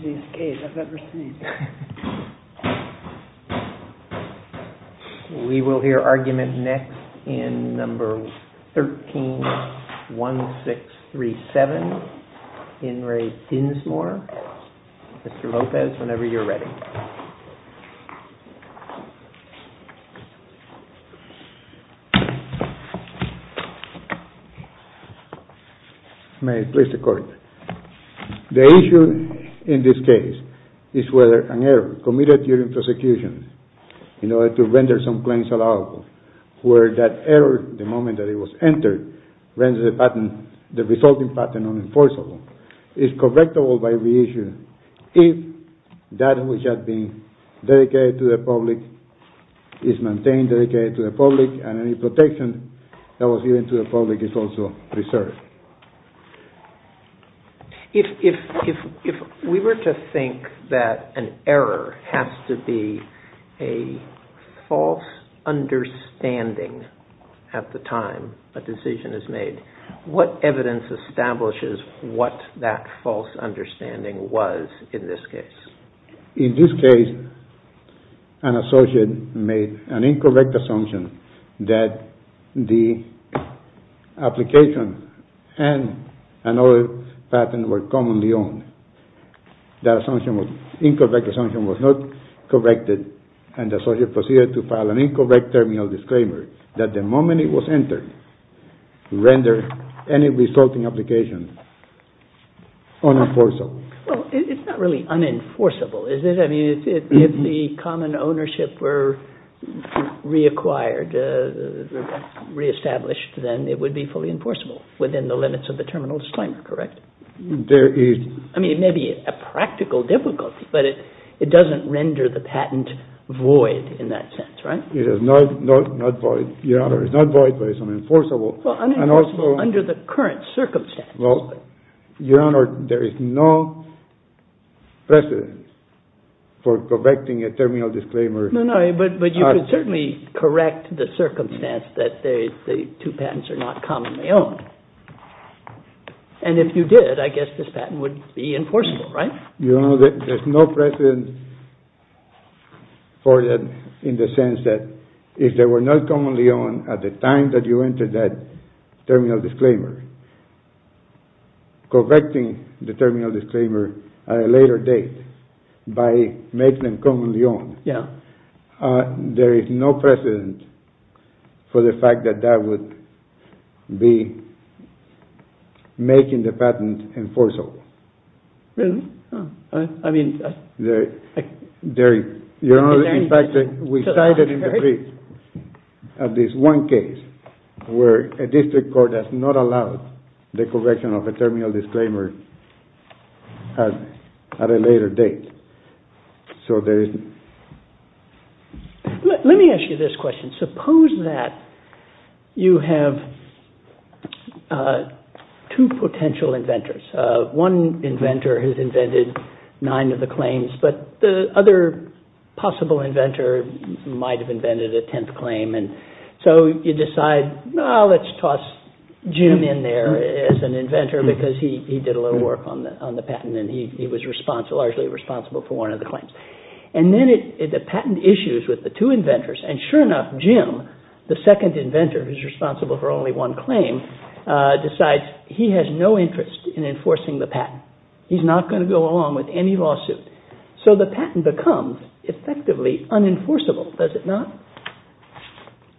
This is the noisiest cave I've ever seen. We will hear argument next in number 131637, In Re Dinsmore, Mr. Lopez, whenever you're ready. May I please the court? The issue in this case is whether an error committed during prosecution in order to render some claims allowable, where that error, the moment that it was entered, renders the patent, the resulting patent unenforceable, is correctable by reissue if that which had been dedicated to the public is maintained, dedicated to the public, and any protection that was given to the public is also preserved. If we were to think that an error has to be a false understanding at the time a decision is made, what evidence establishes what that false understanding was in this case? In this case, an associate made an incorrect assumption that the application and another patent were commonly owned. That incorrect assumption was not corrected and the associate proceeded to file an incorrect terminal disclaimer that the moment it was entered, rendered any resulting application unenforceable. Well, it's not really unenforceable, is it? I mean, if the common ownership were reacquired, reestablished, then it would be fully enforceable within the limits of the terminal disclaimer, correct? There is. I mean, it may be a practical difficulty, but it doesn't render the patent void in that sense, right? It is not void, Your Honor. It's not void, but it's unenforceable. Well, unenforceable under the current circumstances. Well, Your Honor, there is no precedent for correcting a terminal disclaimer. No, no. But you could certainly correct the circumstance that the two patents are not commonly owned. And if you did, I guess this patent would be enforceable, right? Your Honor, there's no precedent for that in the sense that if they were not commonly owned at the time that you entered that terminal disclaimer, correcting the terminal disclaimer at a later date by making them commonly owned, there is no precedent for the fact that that would be making the patent enforceable. Really? I mean... Your Honor, in fact, we cited in the brief at this one case where a district court has not allowed the correction of a terminal disclaimer at a later date. So there is... Let me ask you this question. Suppose that you have two potential inventors. One inventor has invented nine of the claims, but the other possible inventor might have invented a tenth claim. So you decide, well, let's toss Jim in there as an inventor because he did a lot of work on the patent and he was largely responsible for one of the claims. And then the patent issues with the two inventors, and sure enough, Jim, the second inventor who is responsible for only one claim, decides he has no interest in enforcing the patent. He's not going to go along with any lawsuit. So the patent becomes effectively unenforceable, does it not?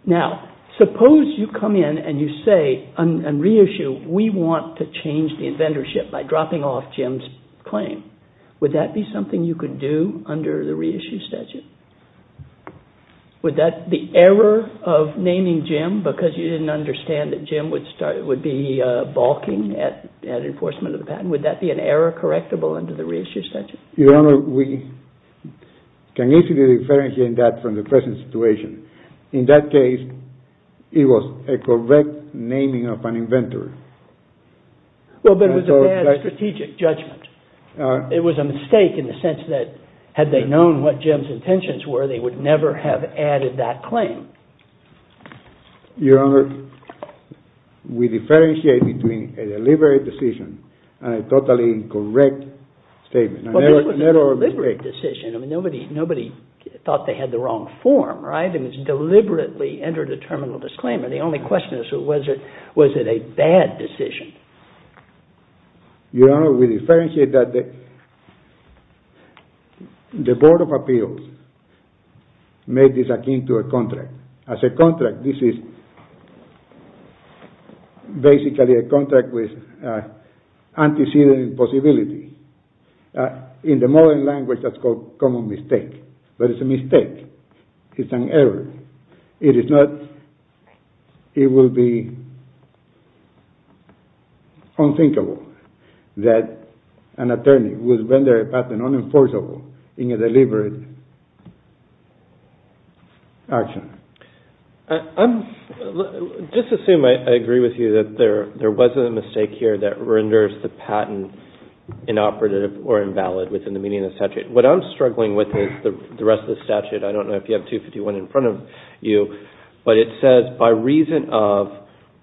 Now, suppose you come in and you say and reissue, we want to change the inventorship by dropping off Jim's claim. Would that be something you could do under the reissue statute? Would that be error of naming Jim because you didn't understand that Jim would be balking at enforcement of the patent? Would that be an error correctable under the reissue statute? Your Honor, we can easily differentiate that from the present situation. In that case, it was a correct naming of an inventor. Well, but it was a bad strategic judgment. It was a mistake in the sense that had they known what Jim's intentions were, they would never have added that claim. Your Honor, we differentiate between a deliberate decision and a totally correct statement. Well, it was a deliberate decision. Nobody thought they had the wrong form, right? It was deliberately entered a terminal disclaimer. The only question is, was it a bad decision? Your Honor, we differentiate that the Board of Appeals made this akin to a contract. As a contract, this is basically a contract with antecedent and possibility. In the modern language, that's called common mistake. But it's a mistake. It's an error. It will be unthinkable that an attorney would render a patent unenforceable in a deliberate action. I just assume I agree with you that there wasn't a mistake here that renders the patent inoperative or invalid within the meaning of the statute. What I'm struggling with is the rest of the statute. I don't know if you have 251 in front of you, but it says, by reason of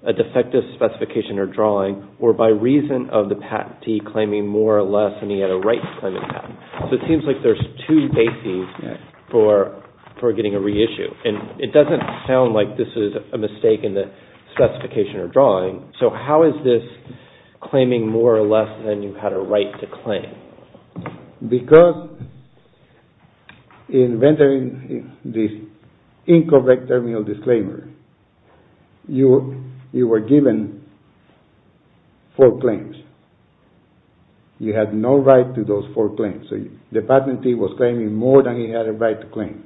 a defective specification or drawing or by reason of the patentee claiming more or less than he had a right to claim the patent. So it seems like there's two bases for getting a reissue. And it doesn't sound like this is a mistake in the specification or drawing. So how is this claiming more or less than you had a right to claim? Because in rendering this incorrect terminal disclaimer, you were given four claims. You had no right to those four claims. So the patentee was claiming more than he had a right to claim.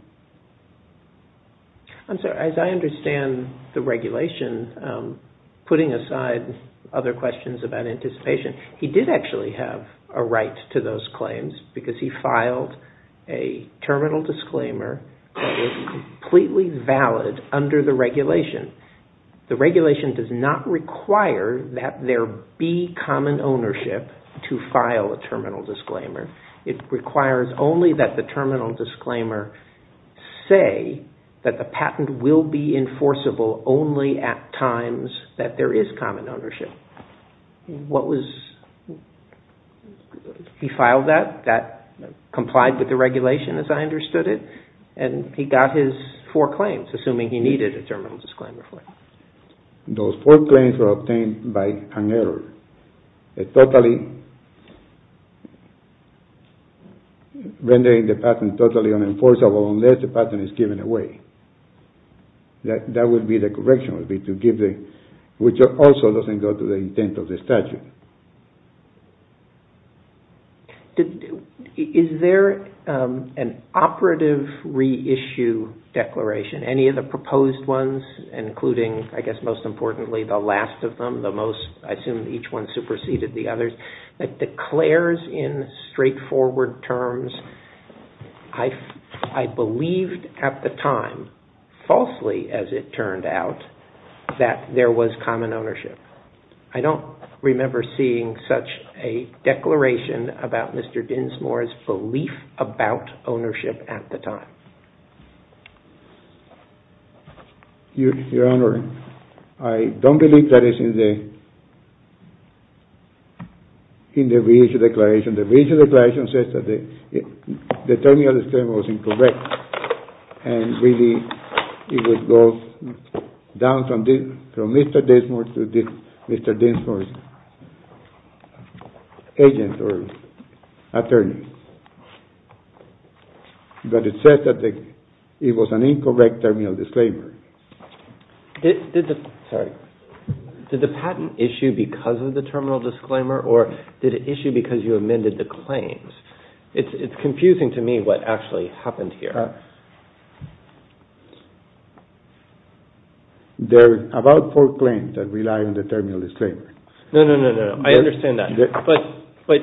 I'm sorry, as I understand the regulation, putting aside other questions about anticipation, he did actually have a right to those claims because he filed a terminal disclaimer that was completely valid under the regulation. The regulation does not require that there be common ownership to file a terminal disclaimer. It requires only that the terminal disclaimer say that the patent will be enforceable only at times that there is common ownership. He filed that. That complied with the regulation as I understood it. And he got his four claims, assuming he needed a terminal disclaimer for it. Those four claims were obtained by an error. It totally rendered the patent totally unenforceable unless the patent is given away. That would be the correction, which also doesn't go to the intent of the statute. Is there an operative reissue declaration, any of the proposed ones, including, I guess most importantly, the last of them, I assume each one superseded the others, that declares in straightforward terms, I believed at the time, falsely as it turned out, that there was common ownership. I don't remember seeing such a declaration about Mr. Dinsmore's belief about ownership at the time. Your Honor, I don't believe that is in the reissue declaration. The reissue declaration says that the terminal disclaimer was incorrect and really it would go down from Mr. Dinsmore to Mr. Dinsmore's agent or attorney. But it says that it was an incorrect terminal disclaimer. Did the patent issue because of the terminal disclaimer or did it issue because you amended the claims? It's confusing to me what actually happened here. There are about four claims that rely on the terminal disclaimer. No, no, no. I understand that. But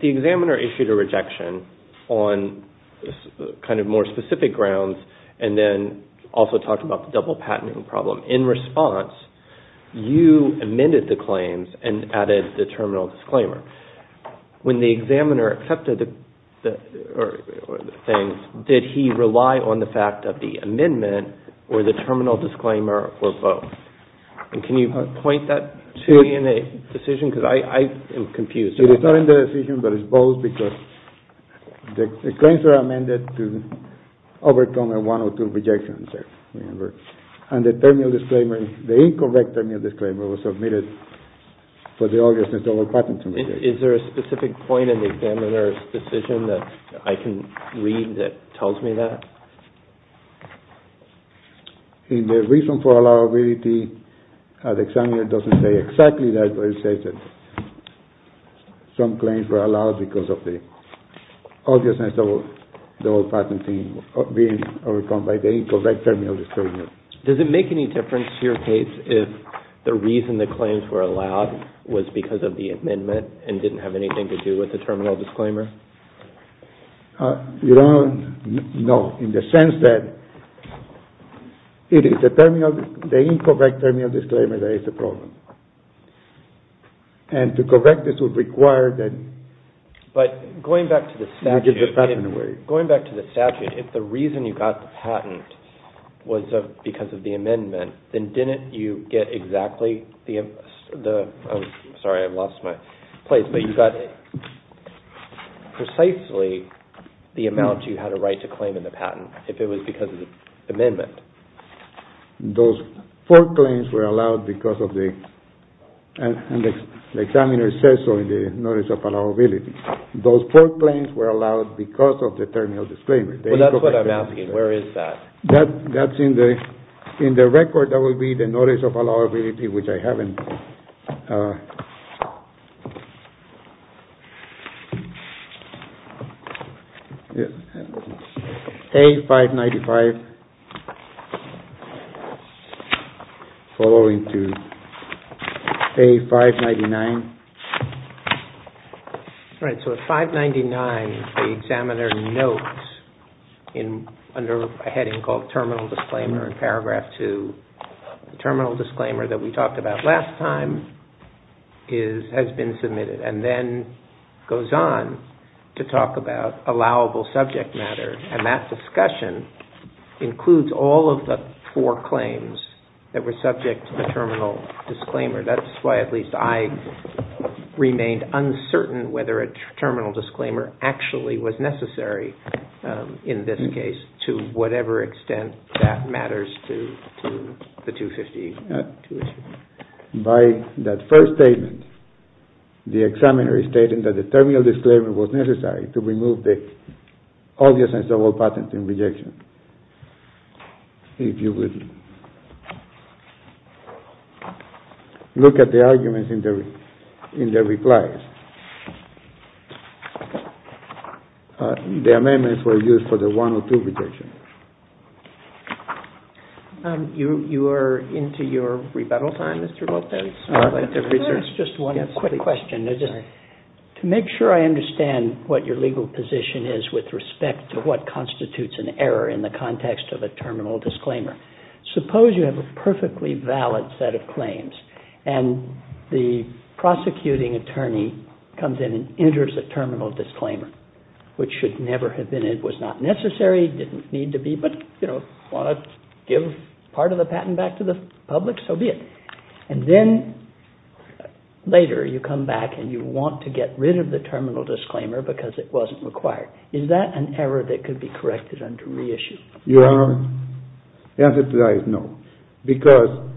the examiner issued a rejection on more specific grounds and then also talked about the double patenting problem. In response, you amended the claims and added the terminal disclaimer. When the examiner accepted the things, did he rely on the fact of the amendment or the terminal disclaimer or both? Can you point that to me in the decision? Because I am confused. It's not in the decision, but it's both because the claims are amended to overcome one or two rejections there. And the incorrect terminal disclaimer was submitted for the obvious double patenting. Is there a specific point in the examiner's decision that I can read that tells me that? In the reason for allowability, the examiner doesn't say exactly that, but it says that some claims were allowed because of the obvious double patenting being overcome by the incorrect terminal disclaimer. Does it make any difference to your case if the reason the claims were allowed was because of the amendment and didn't have anything to do with the terminal disclaimer? No, in the sense that it is the incorrect terminal disclaimer that is the problem. And to correct this would require that... But going back to the statute, if the reason you got the patent was because of the amendment, then didn't you get exactly the... Sorry, I've lost my place, but you got precisely the amount you had a right to claim in the patent if it was because of the amendment. Those four claims were allowed and the examiner says so in the notice of allowability. Those four claims were allowed because of the terminal disclaimer. That's in the record that would be the notice of allowability which I haven't... A-595 following to A-599 Right, so at 599 the examiner notes under a heading called Terminal Disclaimer in paragraph 2 the terminal disclaimer that we talked about last time has been submitted and then goes on to talk about allowable subject matter and that discussion includes all of the four claims that were subject to the terminal disclaimer. That's why at least I remained uncertain whether a terminal disclaimer actually was necessary in this case to whatever extent that matters to the 252 issue. By that first statement the examiner is stating that the terminal disclaimer was necessary to remove the obvious and subtle patent in rejection. If you would look at the arguments in the replies the amendments were used for the 102 rejection. You are into your To make sure I understand what your legal position is with respect to what constitutes an error in the context of a terminal disclaimer suppose you have a perfectly valid set of claims and the prosecuting attorney comes in and enters a terminal disclaimer which should never have been it was not necessary but if you want to give part of the patent back to the public, so be it and then later you come back and you want to get rid of the terminal disclaimer because it wasn't required. Is that an error that could be corrected under reissue? The answer to that is no because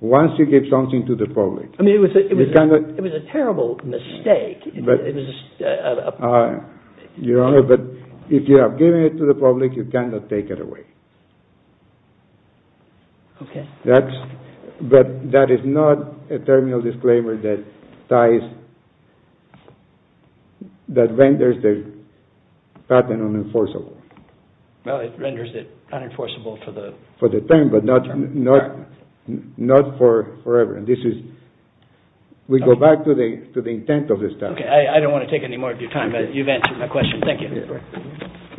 once you give something to the public It was a terrible mistake but if you have given it to the public you cannot take it away but that is not a terminal disclaimer that vendors the patent unenforceable It renders it unenforceable for the term but not forever We go back to the intent of this topic I don't want to take any more of your time but you've answered my question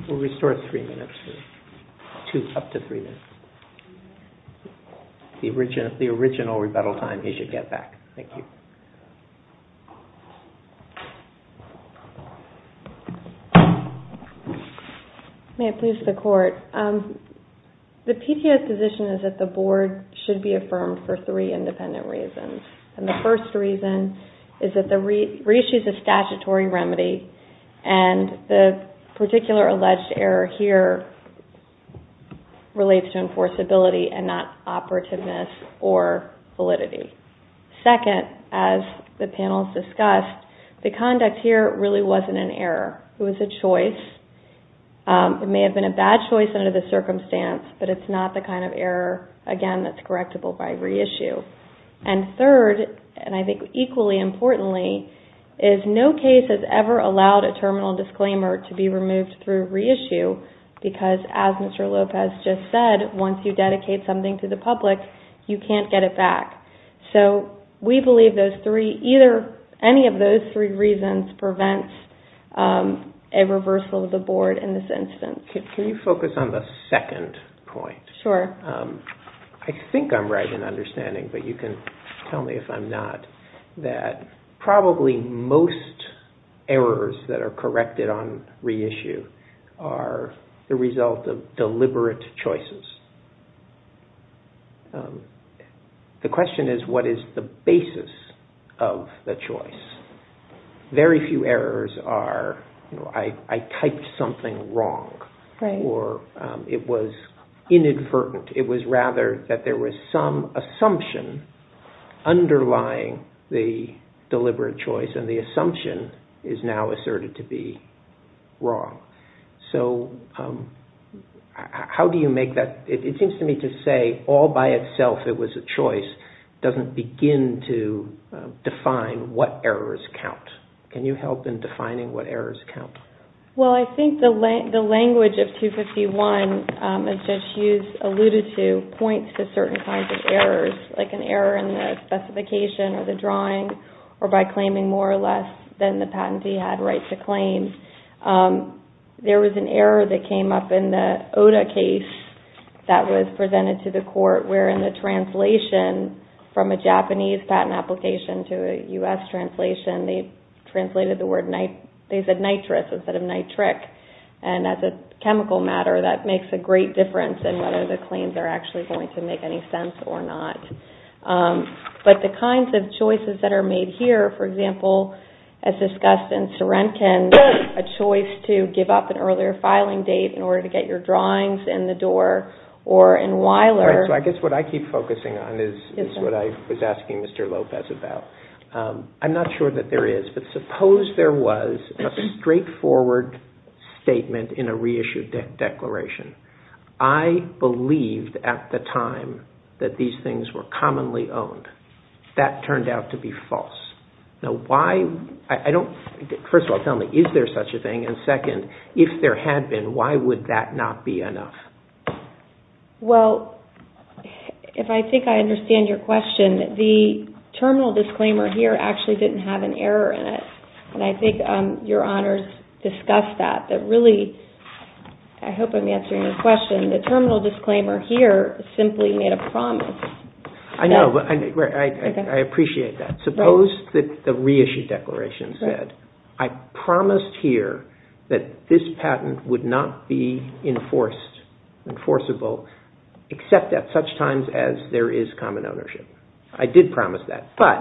We'll restore up to 3 minutes The original rebuttal time he should get back May it please the court The PTS position is that the board should be affirmed for 3 independent reasons The first reason is that reissue is a statutory remedy and the particular alleged error here relates to enforceability and not operativeness or validity Second, as the panel has discussed the conduct here really wasn't an error It was a choice It may have been a bad choice but it's not the kind of error that's correctable by reissue Third, and equally important no case has ever allowed a terminal disclaimer to be removed through reissue because as Mr. Lopez just said once you dedicate something to the public you can't get it back We believe any of those 3 reasons prevents a reversal of the board in this instance Can you focus on the second point? I think I'm right in understanding but you can tell me if I'm not that probably most errors that are corrected on reissue are the result of deliberate choices The question is what is the basis of the choice? Very few errors are I typed something wrong or it was inadvertent It was rather that there was some assumption underlying the deliberate choice and the assumption is now asserted to be wrong It seems to me to say all by itself it was a choice doesn't begin to define what errors count Can you help in defining what errors count? I think the language of 251 as Judge Hughes alluded to points to certain kinds of errors like an error in the specification or by claiming more or less than the patentee had right to claim There was an error that came up in the ODA case that was presented to the court where in the translation from a Japanese patent application to a U.S. translation they said nitrous instead of nitric and as a chemical matter that makes a great difference in whether the claims are going to make any sense or not The kinds of choices that are made here as discussed in Sorenkin a choice to give up an earlier filing date in order to get your drawings in the door I guess what I keep focusing on is what I was asking Mr. Lopez about I'm not sure that there is but suppose there was a straightforward statement in a reissued declaration I believed at the time that these things were commonly owned That turned out to be false First of all, tell me, is there such a thing? And second, if there had been, why would that not be enough? Well if I think I understand your question the terminal disclaimer here actually didn't have an error in it and I think your honors discussed that I hope I'm answering your question the terminal disclaimer here simply made a promise I know, I appreciate that Suppose the reissued declaration said I promised here that this patent would not be enforced except at such times as there is common ownership I did promise that but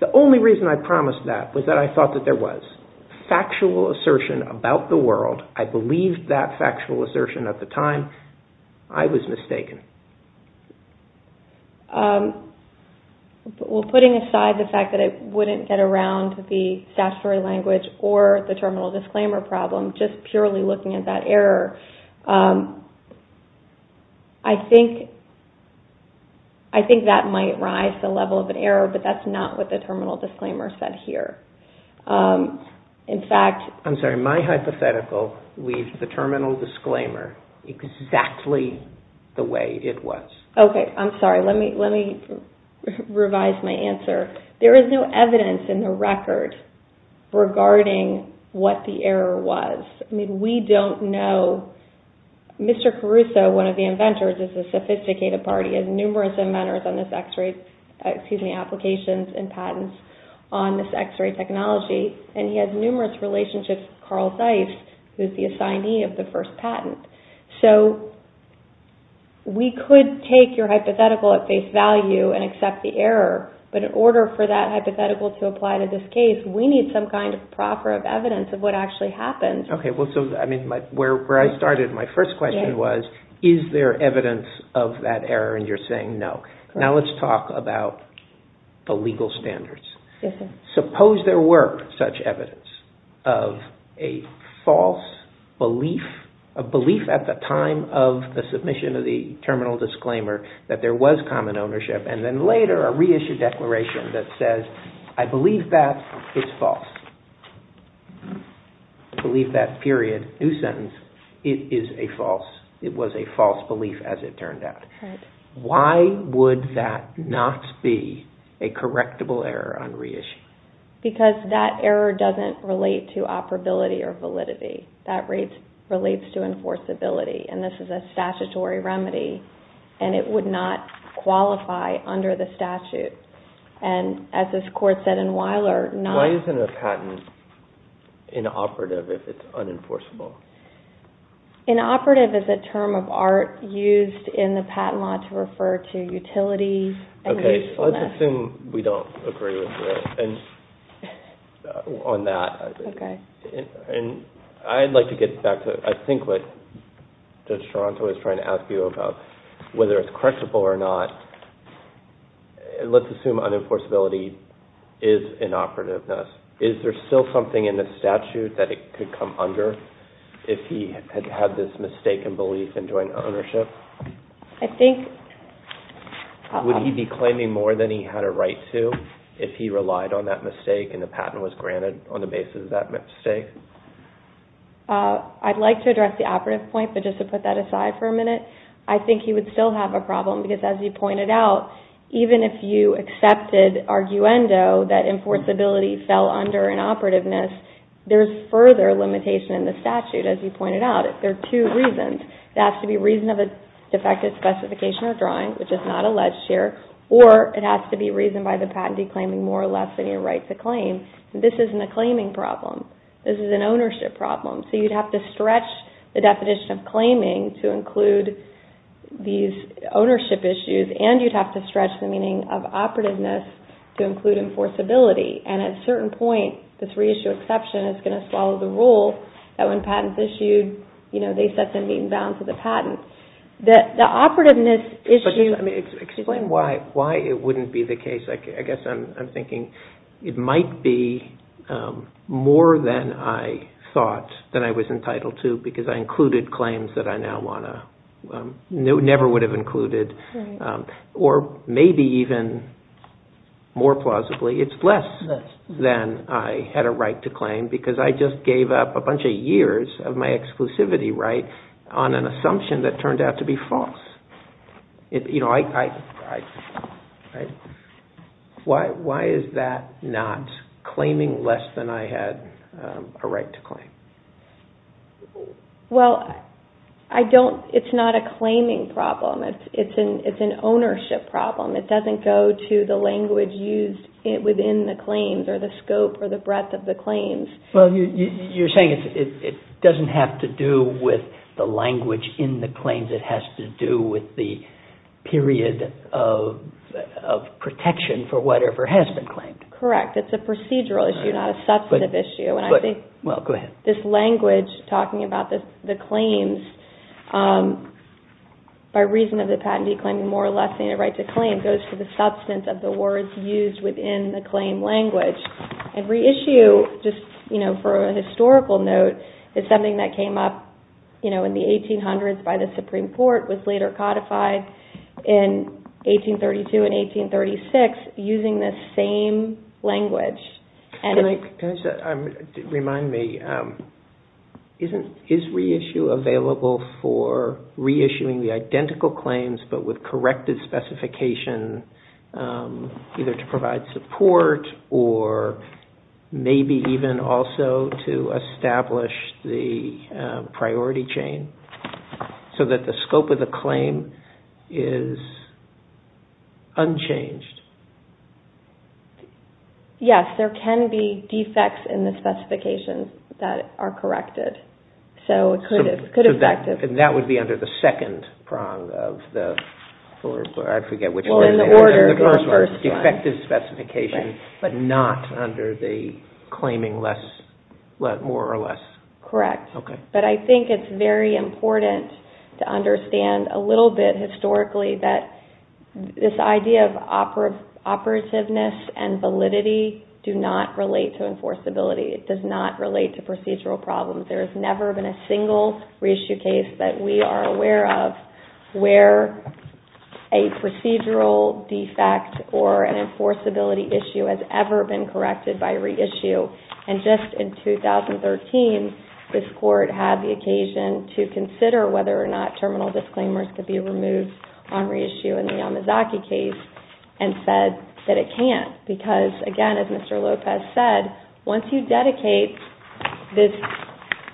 the only reason I promised that was that I thought that there was factual assertion about the world I believed that factual assertion at the time I was mistaken Well, putting aside the fact that it wouldn't get around the statutory language or the terminal disclaimer problem just purely looking at that error I think that might rise the level of an error but that's not what the terminal disclaimer said here I'm sorry, my hypothetical leaves the terminal disclaimer exactly Ok, I'm sorry, let me revise my answer There is no evidence in the record regarding what the error was I mean, we don't know Mr. Caruso, one of the inventors, is a sophisticated party has numerous inventors on this X-ray excuse me, applications and patents on this X-ray technology and he has numerous relationships with Carl Zeiss who is the assignee of the first patent so we could take your hypothetical at face value and accept the error but in order for that hypothetical to apply to this case we need some kind of evidence of what actually happened Ok, so where I started my first question was is there evidence of that error and you're saying no now let's talk about the legal standards suppose there were such evidence of a false belief a belief at the time of the submission of the terminal disclaimer that there was common ownership and then later a reissued declaration that says I believe that it's false I believe that period new sentence, it is a false it was a false belief as it turned out why would that not be a correctable error on reissue because that error doesn't relate to operability or validity that relates to enforceability and this is a statutory remedy and it would not qualify under the statute and as this court said in Weiler why isn't a patent inoperative if it's unenforceable inoperative is a term of art used in the patent law to refer to utility and usefulness Ok, let's assume we don't agree with this on that I'd like to get back to what Judge Toronto was trying to ask you whether it's correctable or not let's assume unenforceability is inoperativeness is there still something in the statute that it could come under if he had this mistaken belief in joint ownership would he be claiming more than he had a right to if he relied on that mistake and the patent was granted on the basis of that mistake I'd like to address the operative point but just to put that aside for a minute I think he would still have a problem because as you pointed out even if you accepted arguendo that enforceability fell under inoperativeness there's further limitation in the statute there are two reasons it has to be reason of a defective specification or drawing which is not alleged here or it has to be reason by the patentee claiming more or less than your right to claim this isn't a claiming problem this is an ownership problem so you'd have to stretch the definition of claiming to include these ownership issues and you'd have to stretch the meaning of operativeness to include enforceability and at a certain point this reissue exception is going to swallow the rule that when patents are issued they set the mean balance of the patent explain why it wouldn't be the case I guess I'm thinking it might be more than I thought than I was entitled to because I included claims that I never would have included or maybe even more plausibly it's less than I had a right to claim because I just gave up a bunch of years of my exclusivity right on an assumption that turned out to be false you know why is that not claiming less than I had a right to claim well it's not a claiming problem it's an ownership problem it doesn't go to the language used within the claims or the scope or the breadth of the claims you're saying it doesn't have to do with the language in the claims it has to do with the period of protection for whatever has been claimed correct, it's a procedural issue not a substantive issue this language talking about the claims by reason of the patentee claiming more or less than a right to claim goes to the substance of the words used within the claim language and reissue for a historical note is something that came up in the 1800s by the Supreme Court was later codified in 1832 and 1836 using the same language remind me is reissue available for for reissuing the identical claims but with corrected specification either to provide support or maybe even also to establish the priority chain so that the scope of the claim is unchanged yes there can be defects in the specifications that are corrected that would be under the second prong in the order effective specification but not under the claiming more or less I think it's very important to understand a little bit historically that this idea of operativeness and validity does not relate to procedural problems there has never been a single reissue case that we are aware of where a procedural defect or an enforceability issue has ever been corrected by reissue and just in 2013 this court had the occasion to consider whether or not terminal disclaimers could be removed on reissue in the Yamazaki case and said that it can't because again as Mr. Lopez said once you dedicate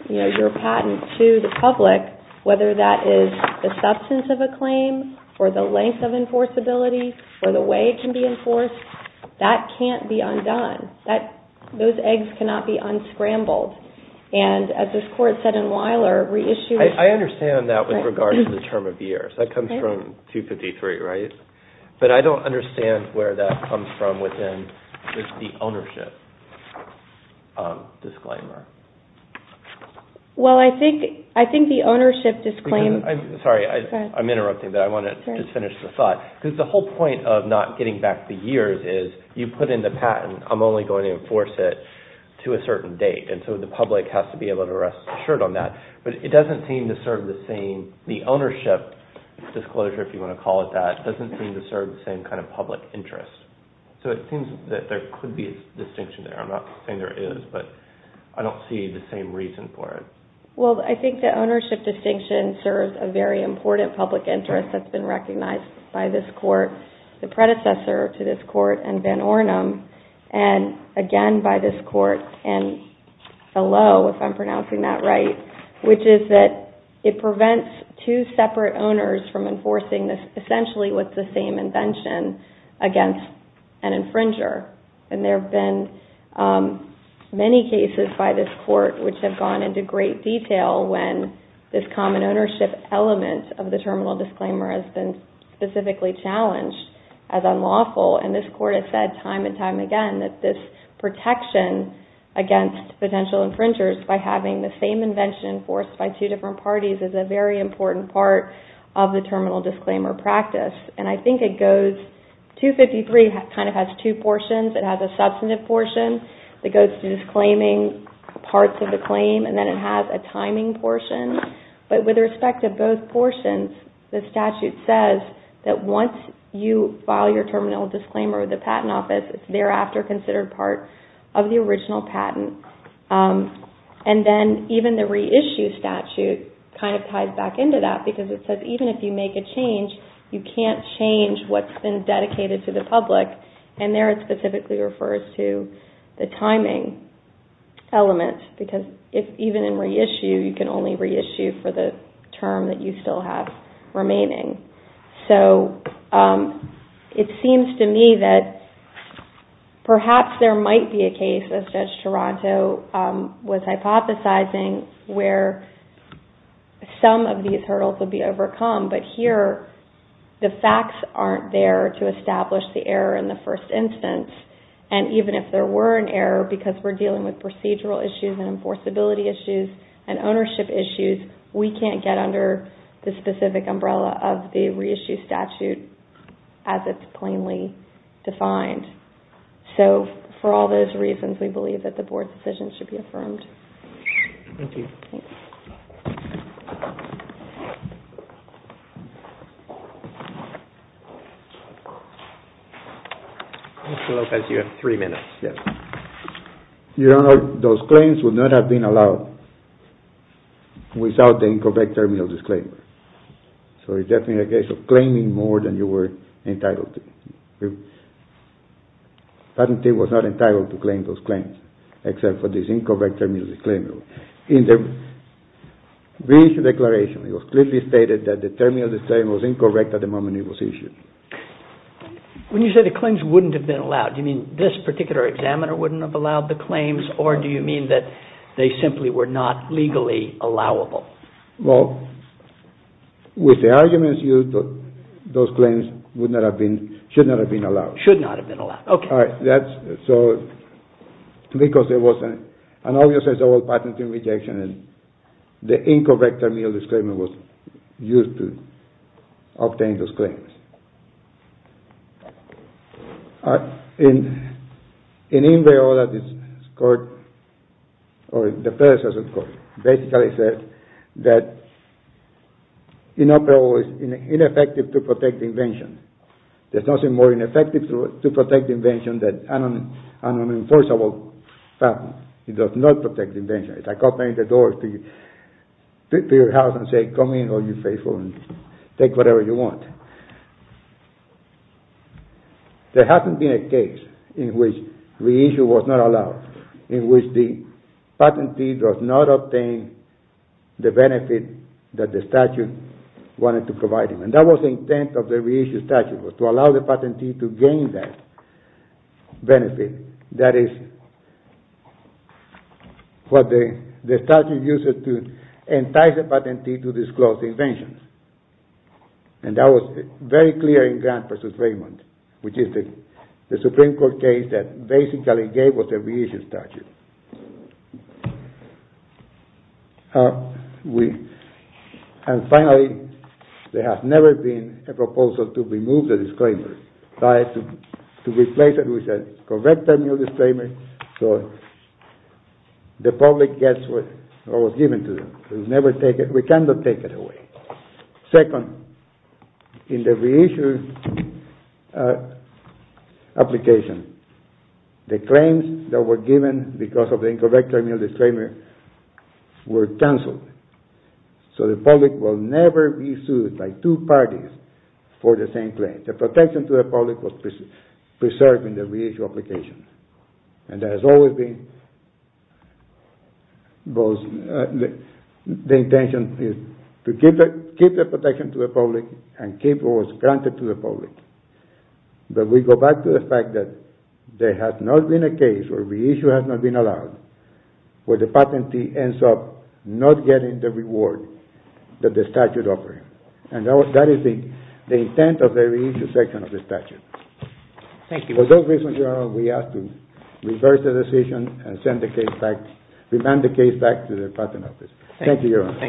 your patent to the public whether that is the substance of a claim or the length of enforceability or the way it can be enforced that can't be undone those eggs cannot be unscrambled and as this court said in Weiler I understand that with regard to the term of years that comes from 253 but I don't understand where that comes from within the ownership disclaimer well I think the ownership disclaimer I'm sorry I'm interrupting but I want to finish the thought because the whole point of not getting back the years is you put in the patent I'm only going to enforce it to a certain date and so the public has to be able to rest assured on that but it doesn't seem to serve the same the ownership disclosure if you want to call it that it doesn't seem to serve the same kind of public interest so it seems that there could be a distinction there I'm not saying there is but I don't see the same reason for it well I think the ownership distinction serves a very important public interest that's been recognized by this court the predecessor to this court and again by this court which is that it prevents two separate owners from enforcing essentially with the same invention against an infringer and there have been many cases by this court which have gone into great detail when this common ownership element of the terminal disclaimer has been specifically challenged as unlawful and this court has said time and time again that this protection against potential infringers by having the same invention enforced by two different parties is a very important part of the terminal disclaimer practice and I think it goes 253 kind of has two portions it has a substantive portion that goes to disclaiming parts of the claim and then it has a timing portion but with respect to both portions the statute says that once you file your terminal disclaimer with the patent office it's thereafter considered part of the original patent and then even the reissue statute kind of ties back into that because it says even if you make a change you can't change what's been dedicated to the public and there it specifically refers to the timing element because even in reissue you can only reissue for the term that you still have remaining so it seems to me that perhaps there might be a case as Judge Taranto was hypothesizing where some of these hurdles would be overcome but here the facts aren't there to establish the error in the first instance and even if there were an error because we're dealing with procedural issues and enforceability issues and ownership issues we can't get under the specific umbrella of the reissue statute as it's plainly defined so for all those reasons we believe that the board's decision should be affirmed. Thank you. Mr. Lopez, you have three minutes. Those claims would not have been allowed without the Incovect Terminal Disclaimer so it's definitely a case of claiming more than you were entitled to. Patentee was not entitled to claim those claims except for this Incovect Terminal Disclaimer. In the original statute it says that in the reissue declaration it was clearly stated that the Terminal Disclaimer was incorrect at the moment it was issued. When you say the claims wouldn't have been allowed do you mean this particular examiner wouldn't have allowed the claims or do you mean that they simply were not legally allowable? With the arguments used those claims should not have been allowed. Should not have been allowed. Because there was an obvious patentee rejection and the Incovect Terminal Disclaimer was used to obtain those claims. In Inveriola the predecessor of the court basically said that Inoperable is ineffective to protect the invention. There's nothing more ineffective to protect the invention than an unenforceable patent. It does not protect the invention. It's like opening the door to your house and saying come in and take whatever you want. There hasn't been a case in which reissue was not allowed in which the patentee does not obtain the benefit that the statute wanted to provide him. That was the intent of the reissue statute to allow the patentee to gain that benefit. That is what the statute used to entice the patentee to disclose the invention. And that was very clear in Grant v. Raymond which is the Supreme Court case that basically gave us the reissue statute. And finally there has never been a proposal to remove the disclaimer to replace it with a Incovect Terminal Disclaimer so the public gets what was given to them. We cannot take it away. Second, in the reissue application the claims that were given because of the Incovect Terminal Disclaimer were cancelled. So the public will never be sued by two parties for the same claim. The protection to the public was preserved in the reissue application. And there has always been the intention to keep the protection to the public and keep what was granted to the public. But we go back to the fact that there has not been a case where reissue has not been allowed where the patentee ends up not getting the reward that the statute offered. And that is the intent of the reissue section of the statute. For those reasons, Your Honor, we ask to reverse the decision and remand the case back to the Department of Justice. Thank you, Your Honor.